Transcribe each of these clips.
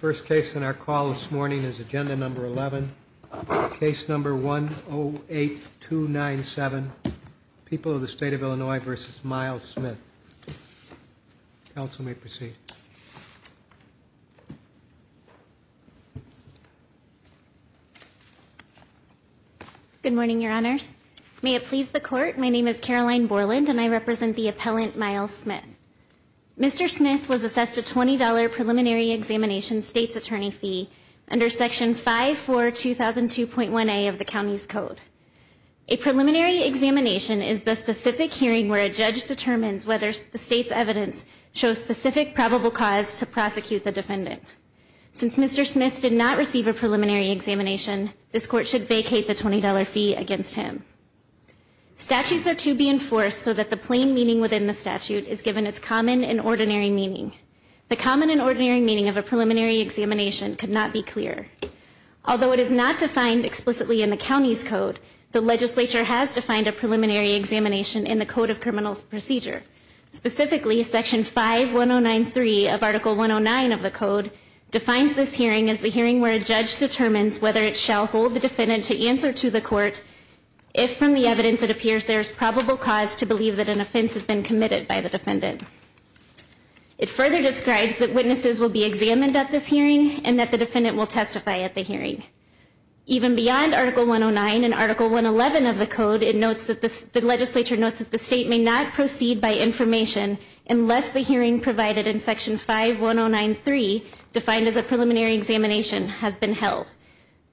First case in our call this morning is agenda number 11. Case number 108297 People of the State of Illinois v. Miles Smith. Council may proceed. Good morning, your honors. May it please the court, my name is Caroline Borland and I represent the appellant Miles Smith. Mr. Smith was assessed a $20 preliminary examination state's attorney fee under section 542002.1a of the county's code. A preliminary examination is the specific hearing where a judge determines whether the state's evidence shows specific probable cause to prosecute the defendant. Since Mr. Smith did not receive a preliminary examination this court should vacate the $20 fee against him. Statutes are to be enforced so that the plain meaning within the statute is given its common and ordinary meaning. The common and ordinary meaning of a preliminary examination could not be clearer. Although it is not defined explicitly in the county's code, the legislature has defined a preliminary examination in the code of criminals procedure. Specifically section 51093 of article 109 of the code defines this hearing as the hearing where a judge determines whether it shall hold the defendant to answer to the court if from the evidence it appears there's probable cause to believe that an offense has been committed by the defendant. It further describes that witnesses will be examined at this hearing and that the defendant will testify at the hearing. Even beyond article 109 and article 111 of the code it notes that the legislature notes that the state may not proceed by information unless the hearing provided in section 51093 defined as a preliminary examination has been held.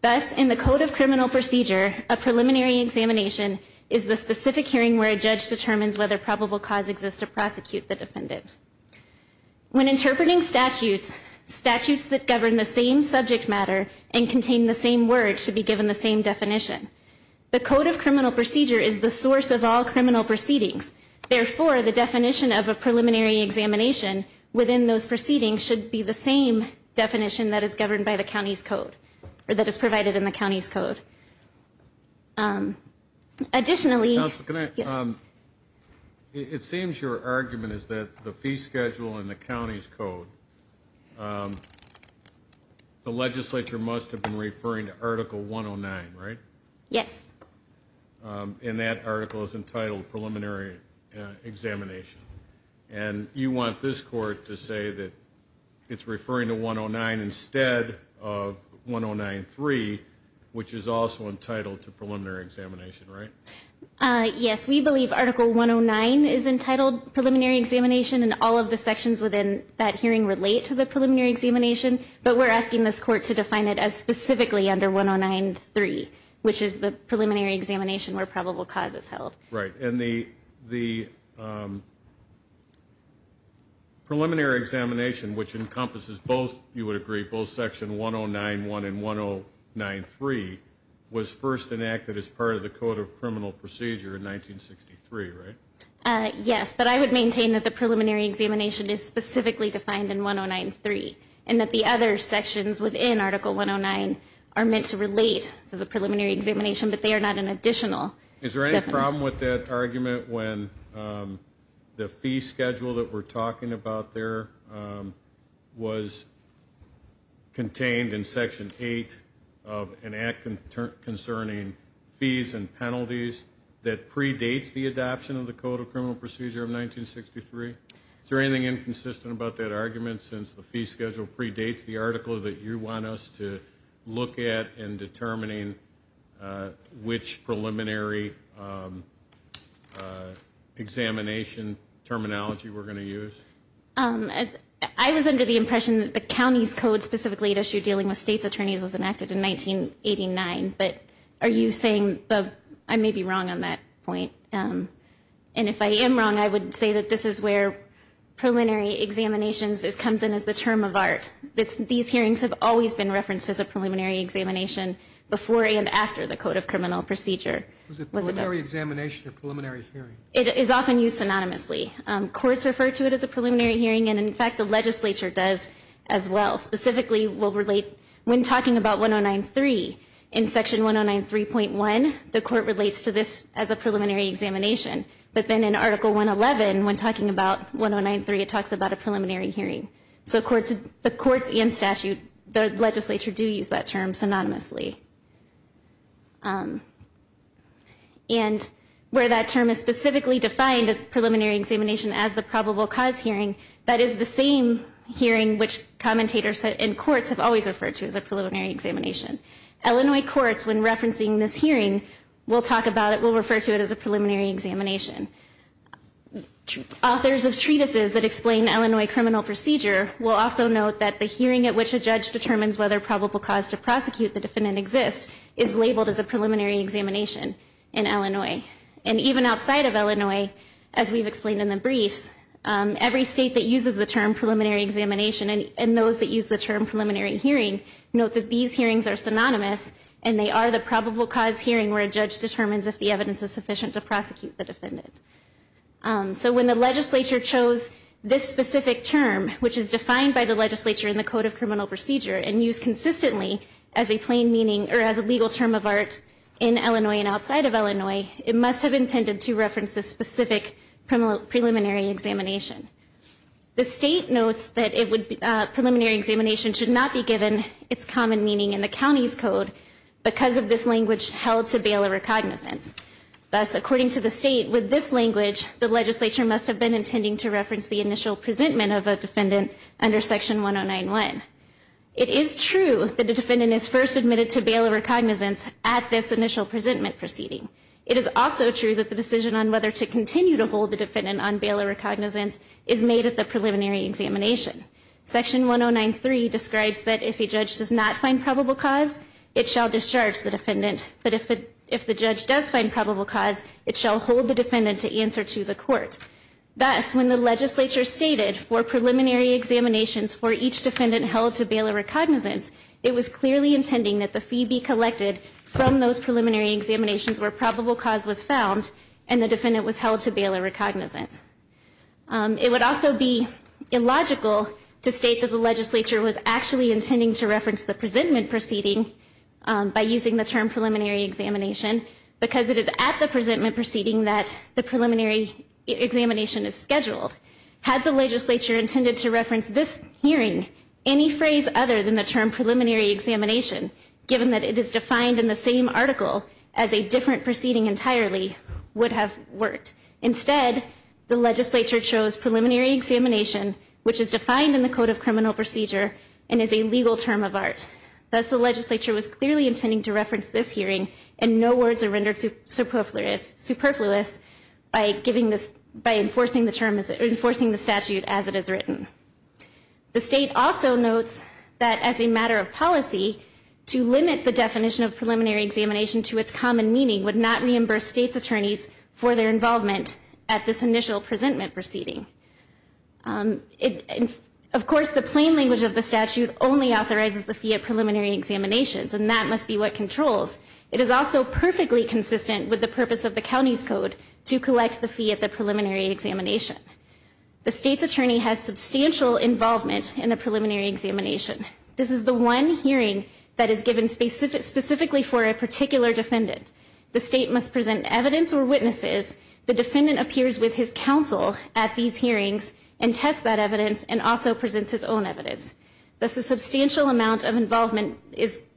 Thus in the code of criminal procedure a preliminary examination is the specific hearing where a judge determines whether probable cause exists to prosecute the defendant. When interpreting statutes, statutes that govern the same subject matter and contain the same words should be given the same definition. The code of criminal procedure is the source of all criminal proceedings. Therefore the definition of a preliminary examination within those proceedings should be the same definition that is governed by the It seems your argument is that the fee schedule in the county's code the legislature must have been referring to article 109 right? Yes. And that article is entitled preliminary examination and you want this court to say that it's referring to 109 instead of 1093 which is also entitled to preliminary examination right? Yes we believe article 109 is entitled preliminary examination and all of the sections within that hearing relate to the preliminary examination but we're asking this court to define it as specifically under 1093 which is the preliminary examination where probable cause is held. Right and the the preliminary examination which encompasses both you was first enacted as part of the code of criminal procedure in 1963 right? Yes but I would maintain that the preliminary examination is specifically defined in 1093 and that the other sections within article 109 are meant to relate to the preliminary examination but they are not an additional. Is there any problem with that argument when the fee schedule that we're talking about there was contained in section 8 of an act concerning fees and penalties that predates the adoption of the Code of Criminal Procedure of 1963? Is there anything inconsistent about that argument since the fee schedule predates the article that you want us to look at in determining which preliminary examination terminology we're going to use? I was under the impression that the county's code specifically to issue dealing with state's attorneys was enacted in 1989 but are you saying that I may be wrong on that point and if I am wrong I would say that this is where preliminary examinations is comes in as the term of art. These hearings have always been referenced as a preliminary examination before and after the Code of Criminal Procedure. Is it a preliminary examination or preliminary hearing? It is often used synonymously. Courts refer to it as a preliminary hearing and in fact the legislature does as well. Specifically we'll relate when talking about 1093 in section 1093.1 the court relates to this as a preliminary examination but then in article 111 when talking about 1093 it talks about a preliminary hearing so courts the courts and statute the legislature do use that term synonymously and where that term is specifically defined as preliminary examination as the probable cause hearing that is the same hearing which commentators and courts have always referred to as a preliminary examination. Illinois courts when referencing this hearing will talk about it will refer to it as a preliminary examination. Authors of treatises that explain Illinois criminal procedure will also note that the hearing at which a judge determines whether probable cause to prosecute the defendant exists is labeled as a preliminary examination in Illinois and even outside of Illinois as we've explained in the briefs every state that uses the term preliminary examination and those that use the term preliminary hearing note that these hearings are synonymous and they are the probable cause hearing where a judge determines if the evidence is sufficient to prosecute the defendant. So when the legislature chose this specific term which is defined by the legislature in Code of Criminal Procedure and used consistently as a plain meaning or as a legal term of art in Illinois and outside of Illinois it must have intended to reference the specific preliminary examination. The state notes that preliminary examination should not be given its common meaning in the county's code because of this language held to bail or recognizance. Thus according to the state with this language the legislature must have been intending to reference the initial presentment of a defendant under section 1091. It is true that the defendant is first admitted to bail or recognizance at this initial presentment proceeding. It is also true that the decision on whether to continue to hold the defendant on bail or recognizance is made at the preliminary examination. Section 1093 describes that if a judge does not find probable cause it shall discharge the defendant but if the if the judge does find probable cause it shall hold the defendant to answer to the court. Thus when the legislature stated for preliminary examinations for each defendant held to bail or recognizance it was clearly intending that the fee be collected from those preliminary examinations where probable cause was found and the defendant was held to bail or recognizance. It would also be illogical to state that the legislature was actually intending to reference the presentment proceeding by using the term preliminary examination because it is at the presentment proceeding that the preliminary examination is scheduled. Had the legislature intended to reference this hearing any phrase other than the term preliminary examination given that it is defined in the same article as a different proceeding entirely would have worked. Instead the legislature chose preliminary examination which is defined in the Code of Criminal Procedure and is a legal term of art. Thus the legislature was clearly intending to reference this hearing and no words are rendered superfluous by giving this by enforcing the term is enforcing the statute as it is written. The state also notes that as a matter of policy to limit the definition of preliminary examination to its common meaning would not reimburse state's attorneys for their involvement at this initial presentment proceeding. Of course the plain language of the statute only authorizes the fee at preliminary examinations and that must be what controls. It is also perfectly consistent with the purpose of the county's code to collect the fee at the preliminary examination. The state's attorney has substantial involvement in a preliminary examination. This is the one hearing that is given specifically for a particular defendant. The state must present evidence or witnesses. The defendant appears with his counsel at these hearings and test that evidence and also presents his own evidence. A substantial amount of involvement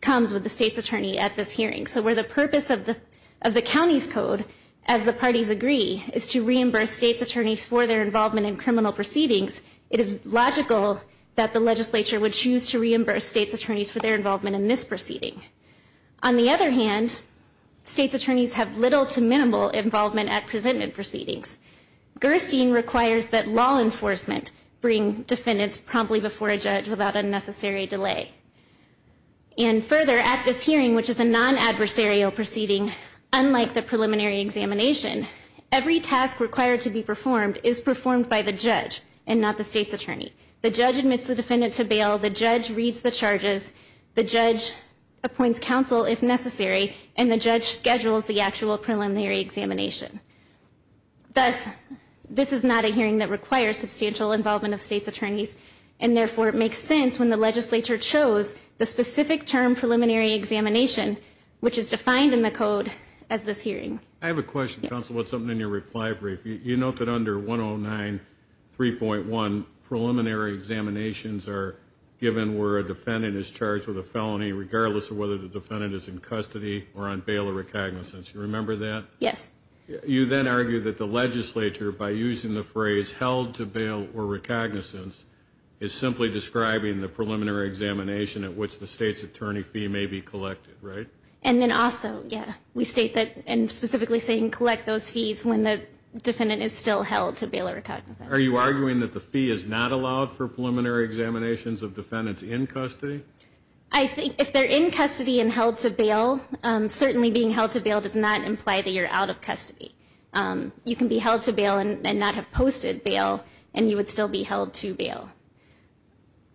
comes with the state's attorney at this hearing. So where the purpose of the of the county's code as the parties agree is to reimburse state's attorneys for their involvement in criminal proceedings, it is logical that the legislature would choose to reimburse state's attorneys for their involvement in this proceeding. On the other hand, state's attorneys have little to minimal involvement at presentment proceedings. Gerstein requires that law enforcement bring defendants promptly before a judge without unnecessary delay. And further, at this hearing, which is a non-adversarial proceeding, unlike the preliminary examination, every task required to be performed is performed by the judge and not the state's attorney. The judge admits the defendant to bail, the judge reads the charges, the judge appoints counsel if necessary, and the judge schedules the actual preliminary examination. Thus, this is not a hearing that requires substantial involvement of state's attorneys and therefore it makes sense when the legislature chose the specific term preliminary examination, which is defined in the code as this hearing. I have a question counsel, it's something in your reply brief. You note that under 109.3.1 preliminary examinations are given where a defendant is charged with a felony regardless of whether the defendant is in custody or on bail or recognizance. You remember that? Yes. You then argue that the legislature, by using the phrase held to bail or recognizance, is simply describing the preliminary examination at which the state's attorney fee may be collected, right? And then also, yeah, we state that and specifically saying collect those fees when the defendant is still held to bail or recognizance. Are you arguing that the fee is not allowed for preliminary examinations of defendants in custody? I think if they're in custody and held to bail, certainly being held to bail does not imply that you're out of custody. You can be held to bail and not have posted bail and you would still be held to bail.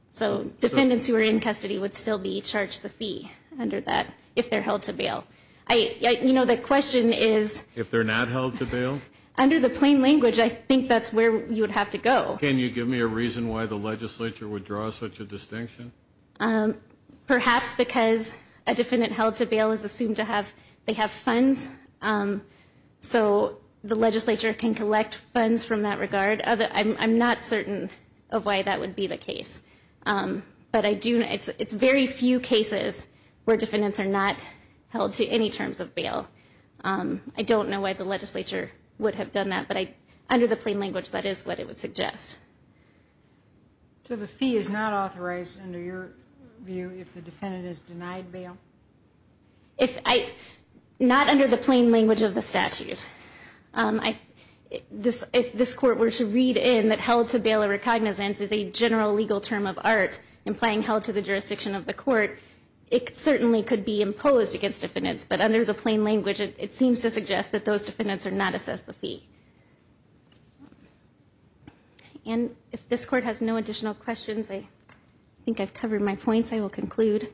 So defendants who are in custody would still be charged the fee under that if they're held to bail. I, you know, the question is if they're not held to bail? Under the plain language I think that's where you would have to go. Can you give me a reason why the legislature would draw such a defendant held to bail is assumed to have, they have funds, so the legislature can collect funds from that regard? I'm not certain of why that would be the case, but I do know it's very few cases where defendants are not held to any terms of bail. I don't know why the legislature would have done that, but I under the plain language that is what it would suggest. So the fee is not if I, not under the plain language of the statute. I, this, if this court were to read in that held to bail or recognizance is a general legal term of art, implying held to the jurisdiction of the court, it certainly could be imposed against defendants, but under the plain language it seems to suggest that those defendants are not assessed the fee. And if this court has no additional questions, I think I've covered my points, I will conclude.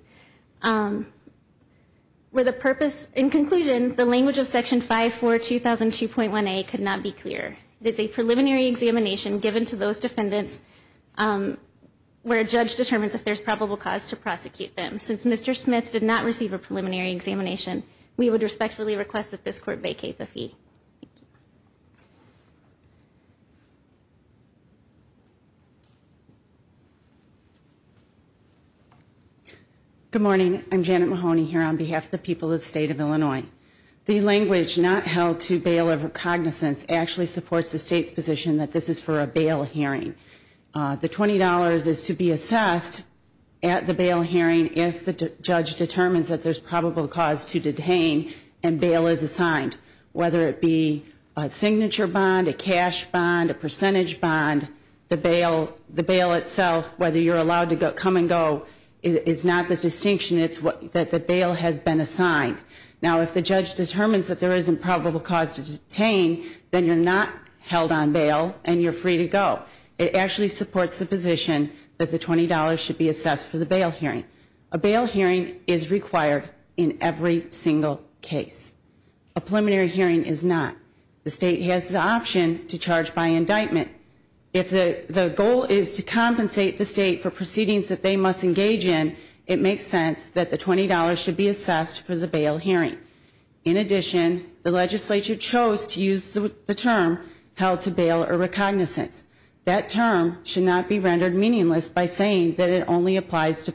With a purpose in conclusion, the language of section 542,002.1a could not be clear. It is a preliminary examination given to those defendants where a judge determines if there's probable cause to prosecute them. Since Mr. Smith did not receive a preliminary examination, we would respectfully request that this court vacate the fee. Good morning. I'm Janet Mahoney here on behalf of the people of the state of Illinois. The language not held to bail or recognizance actually supports the state's position that this is for a bail hearing. The $20 is to be assessed at the bail hearing if the judge determines that there's probable cause to detain and bail is assigned. Whether it be a signature bond, a cash bond, a percentage bond, the bail itself, whether you're allowed to come and go is not the distinction, it's that the bail has been assigned. Now if the judge determines that there isn't probable cause to detain, then you're not held on bail and you're free to go. It actually supports the position that the $20 should be assessed for the bail hearing. A bail hearing is required in every single case. A preliminary hearing is not. The state has the option to charge by indictment. If the goal is to compensate the state for proceedings that they must engage in, it makes sense that the $20 should be assessed for the bail hearing. In addition, the legislature chose to use the term held to bail or recognizance. That term should not be rendered meaningless by saying that it only applies to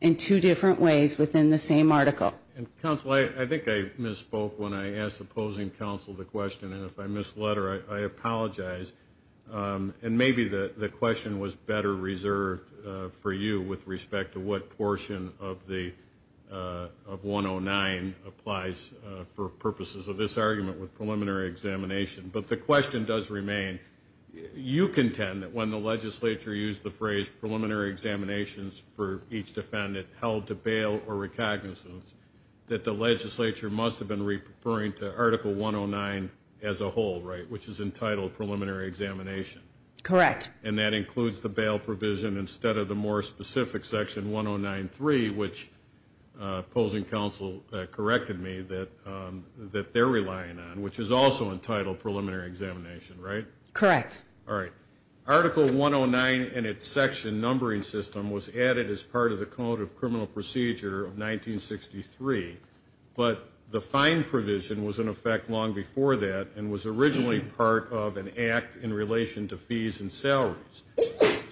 in two different ways within the same article. And counsel, I think I misspoke when I asked the opposing counsel the question and if I misled her, I apologize. Um, and maybe the question was better reserved for you with respect to what portion of the, uh, of 109 applies for purposes of this argument with preliminary examination. But the question does remain, you contend that when the legislature used the phrase preliminary examinations for each defendant held to bail or recognizance that the legislature must have been referring to article 109 as a whole, right? Which is entitled preliminary examination. Correct. And that includes the bail provision instead of the more specific section 1093, which opposing counsel corrected me that, um, that they're relying on, which is also entitled preliminary examination, right? Correct. All right. Article 109 and its section numbering system was added as part of the code of criminal procedure of 1963. But the fine provision was in effect long before that and was originally part of an act in relation to fees and salaries.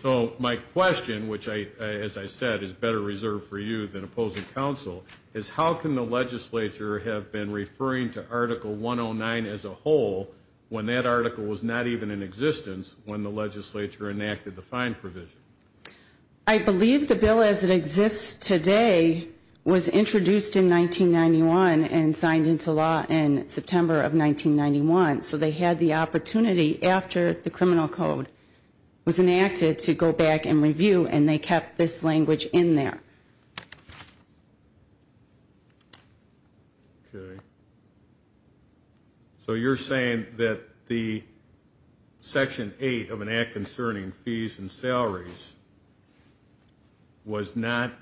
So my question, which I, as I said, is better reserved for you than opposing counsel, is how can the legislature have been referring to article 109 as a whole when that article was not even in existence when the legislature enacted the fine provision? I believe the bill as it exists today was introduced in 1991 and signed into law in September of 1991. So they had the opportunity after the criminal code was enacted to go back and review, and they kept this language in there. Okay. So you're saying that the section eight of an act concerning fees and salaries was not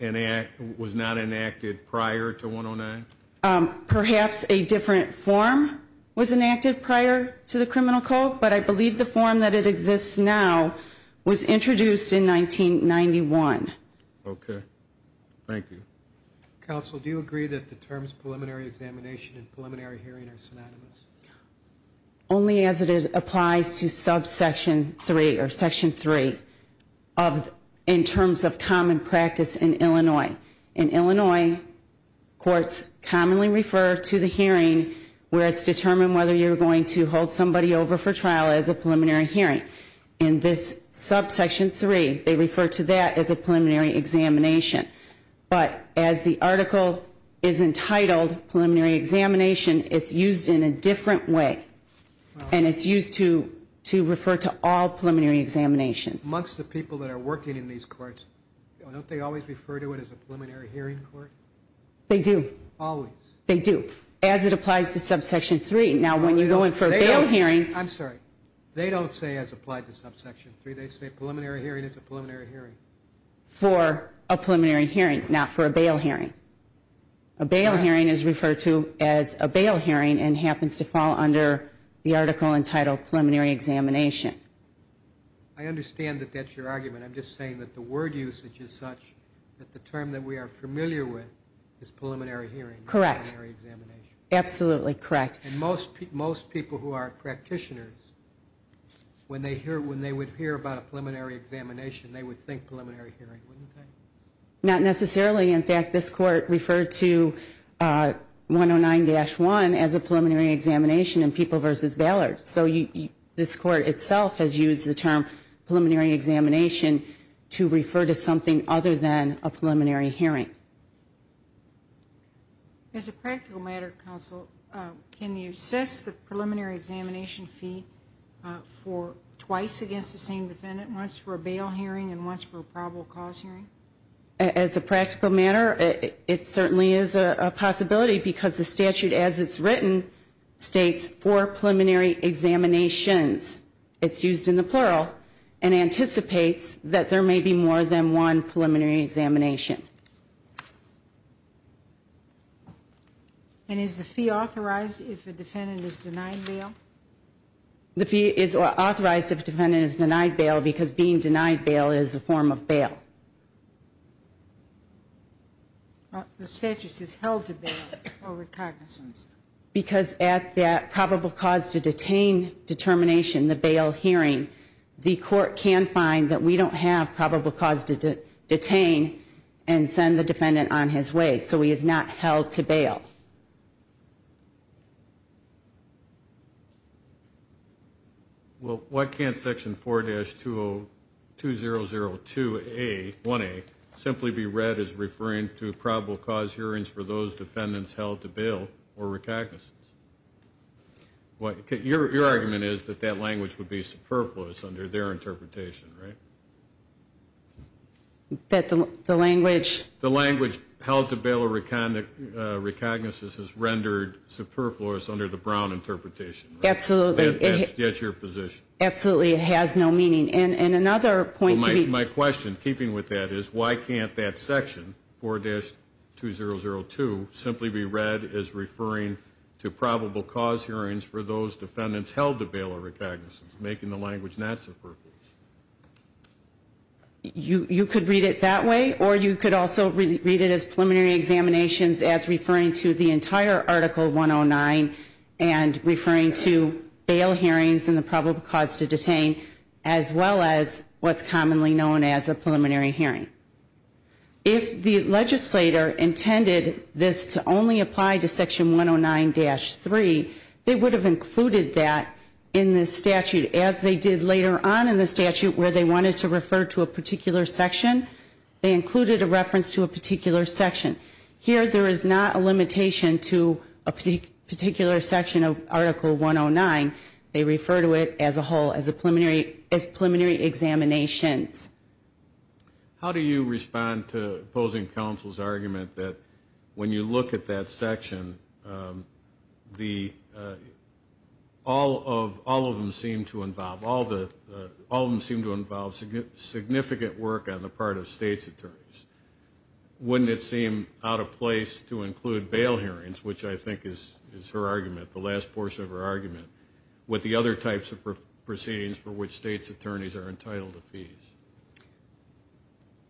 an act, was not enacted prior to 109? Perhaps a different form was enacted prior to the criminal code, but I believe the form that it exists now was introduced in 1991. Okay. Thank you. Counsel, do you agree that the terms preliminary examination and preliminary hearing are applies to subsection three or section three of in terms of common practice in Illinois? In Illinois, courts commonly refer to the hearing where it's determined whether you're going to hold somebody over for trial as a preliminary hearing. In this subsection three, they refer to that as a preliminary examination. But as the article is entitled preliminary examination, it's used in a different way. And it's used to to refer to all preliminary examinations. Amongst the people that are working in these courts, don't they always refer to it as a preliminary hearing court? They do. Always. They do. As it applies to subsection three. Now when you go in for a bail hearing. I'm sorry. They don't say as applied to subsection three. They say preliminary hearing is a preliminary hearing. For a preliminary hearing, not for a bail hearing. A bail hearing is referred to as a bail hearing and happens to fall under the article entitled preliminary examination. I understand that that's your argument. I'm just saying that the word usage is such that the term that we are familiar with is preliminary hearing. Correct. Absolutely correct. And most people who are practitioners, when they hear when they would hear about a preliminary examination, they would think Not necessarily. In fact, this court referred to 109-1 as a preliminary examination in people versus bailers. So this court itself has used the term preliminary examination to refer to something other than a preliminary hearing. As a practical matter, counsel, can you assess the preliminary examination fee for twice against the same defendant? Once for a bail hearing and once for a probable cause hearing? As a practical matter, it certainly is a possibility because the statute, as it's written, states four preliminary examinations. It's used in the plural and anticipates that there may be more than one preliminary examination. And is the fee authorized if the defendant is denied bail? The fee is authorized if the defendant is denied bail because being denied bail is a form of bail. The statute says held to bail for recognizance. Because at that probable cause to detain determination, the bail hearing, the court can find that we don't have probable cause to detain and send the defendant on his way. So he is not held to bail. Well, why can't section 4-2002A, 1A, simply be read as referring to probable cause hearings for those defendants held to bail or recognizance? Your argument is that that language would be superfluous under their interpretation, right? That the language... The language held to bail or recognizance is rendered superfluous under the Brown interpretation. Absolutely. That's your position. Absolutely. It has no meaning. And another point to be... My question, keeping with that, is why can't that section, 4-2002, simply be read as referring to probable cause hearings for those defendants held to bail or recognizance? You could read it that way, or you could also read it as preliminary examinations as referring to the entire article 109 and referring to bail hearings and the probable cause to detain, as well as what's commonly known as a preliminary hearing. If the legislator intended this to only apply to section 109-3, they would have included that in the statute, as they did later on in the statute, where they wanted to refer to a particular section. They included a reference to a particular section. Here, there is not a limitation to a particular section of Article 109. They refer to it as a whole, as preliminary examinations. How do you respond to opposing counsel's argument that when you look at that section, all of them seem to involve significant work on the part of state's attorneys? Wouldn't it seem out of place to include bail hearings, which I think is her argument, the last portion of her argument, with the other types of proceedings for which state's attorneys are entitled to fees?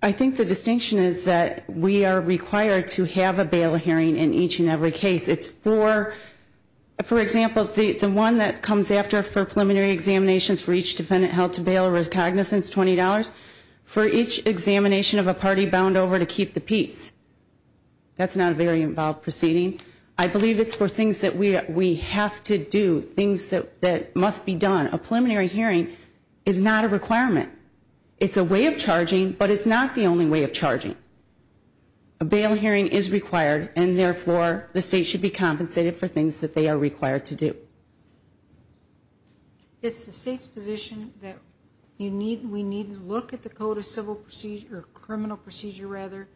I think the distinction is that we are required to have a bail hearing in each and every case. It's for, for example, the one that comes after for preliminary examinations for each defendant held to bail with cognizance, $20, for each examination of a party bound over to keep the peace. That's not a very involved proceeding. I believe it's for things that we have to do, things that must be done. A preliminary hearing is not a requirement. It's a way of charging, but it's not the only way of charging. A bail hearing is required, and therefore, the state should be compensated for things that they are required to do. It's the state's position that you need, we need to look at the code of civil procedure, criminal procedure rather,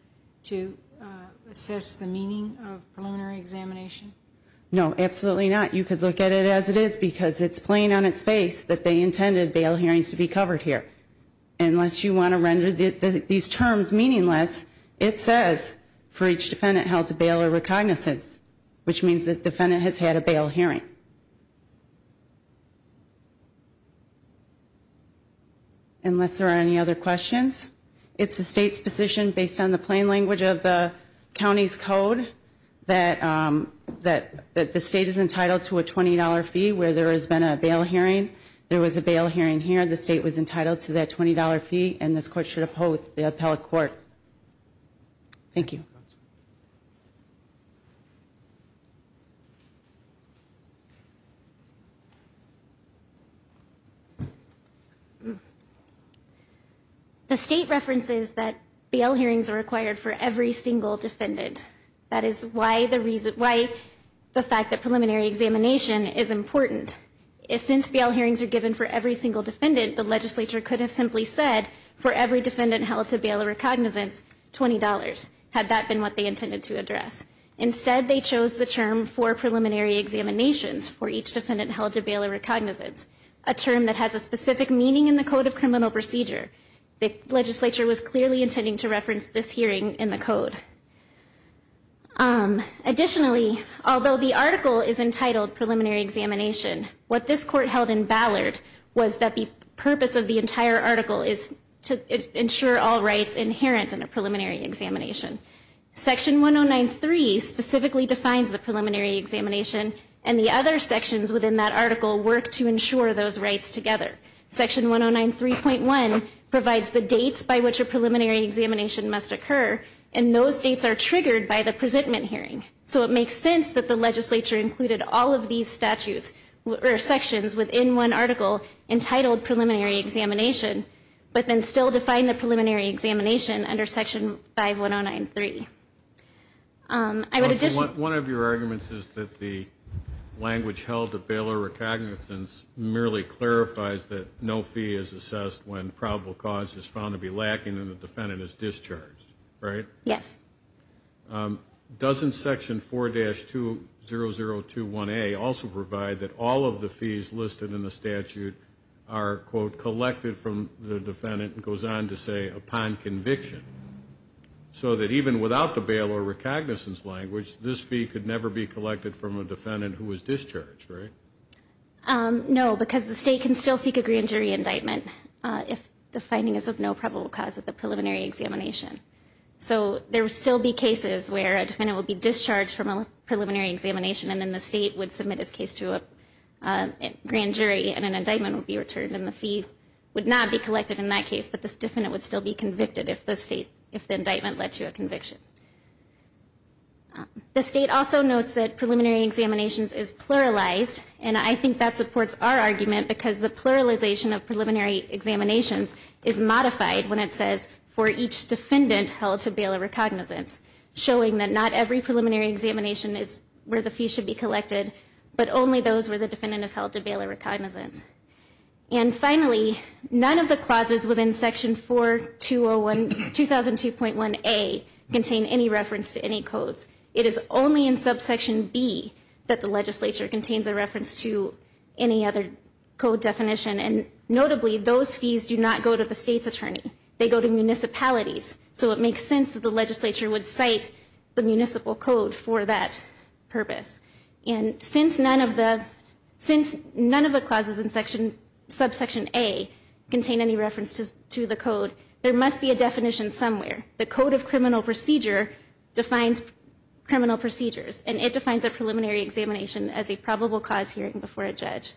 to assess the meaning of preliminary examination? No, absolutely not. You could look at it as it is because it's plain on its face that they intended bail hearings to be covered here. Unless you want to render these terms meaningless, it says for each cognizance, which means the defendant has had a bail hearing. Unless there are any other questions, it's the state's position based on the plain language of the county's code that, that, that the state is entitled to a $20 fee where there has been a bail hearing. There was a bail hearing here. The state was entitled to that $20 fee, and this court should uphold the appellate court. Thank you. The state references that bail hearings are required for every single defendant. That is why the reason, why the fact that preliminary examination is important. Since bail hearings are given for every single defendant, the legislature could have simply said, for every defendant held to bail or recognizance, $20, had that been what they intended to address. Instead, they chose the term for preliminary examinations for each defendant held to bail or recognizance, a term that has a specific meaning in the Code of Criminal Procedure. The legislature was clearly intending to reference this hearing in the code. Additionally, although the article is entitled preliminary examination, what this court held in Ballard was that the purpose of the entire article is to ensure all rights inherent in a preliminary examination. Section 1093 specifically defines the preliminary examination, and the other sections within that article work to ensure those rights together. Section 1093.1 provides the dates by which a preliminary examination must occur, and those dates are triggered by the presentment hearing. So it makes sense that the legislature included all of these statutes or sections within one examination, but then still defined the preliminary examination under Section 51093. One of your arguments is that the language held to bail or recognizance merely clarifies that no fee is assessed when probable cause is found to be lacking and the defendant is discharged, right? Yes. Doesn't Section 4-20021A also provide that all of the fees listed in the statute are quote, collected from the defendant, and goes on to say, upon conviction, so that even without the bail or recognizance language, this fee could never be collected from a defendant who was discharged, right? No, because the state can still seek a grand jury indictment if the finding is of no probable cause at the preliminary examination. So there will still be cases where a defendant will be discharged from a preliminary examination, and then the state would not be collected in that case, but this defendant would still be convicted if the state, if the indictment led to a conviction. The state also notes that preliminary examinations is pluralized, and I think that supports our argument because the pluralization of preliminary examinations is modified when it says for each defendant held to bail or recognizance, showing that not every preliminary examination is where the fee should be collected, but only those where the defendant is held to bail or recognizance. And finally, none of the clauses within section 4-2002.1A contain any reference to any codes. It is only in subsection B that the legislature contains a reference to any other code definition, and notably, those fees do not go to the state's attorney. They go to municipalities, so it makes sense that the legislature would cite the municipal code for that purpose. And since none of the, since none of the clauses in section, subsection A, contain any reference to the code, there must be a definition somewhere. The Code of Criminal Procedure defines criminal procedures, and it defines a preliminary examination as a probable cause hearing before a judge.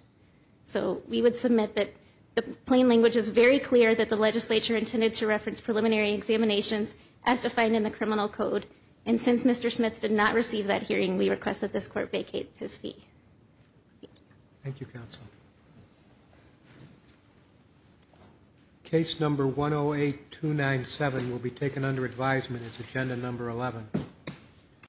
So we would submit that the plain language is very clear that the legislature intended to reference preliminary examinations as defined in the Criminal Code, and since Mr. Smith did not receive that hearing, we request that this court vacate his fee. Thank you. Thank you, Counsel. Case number 108-297 will be taken under advisement as agenda number 11.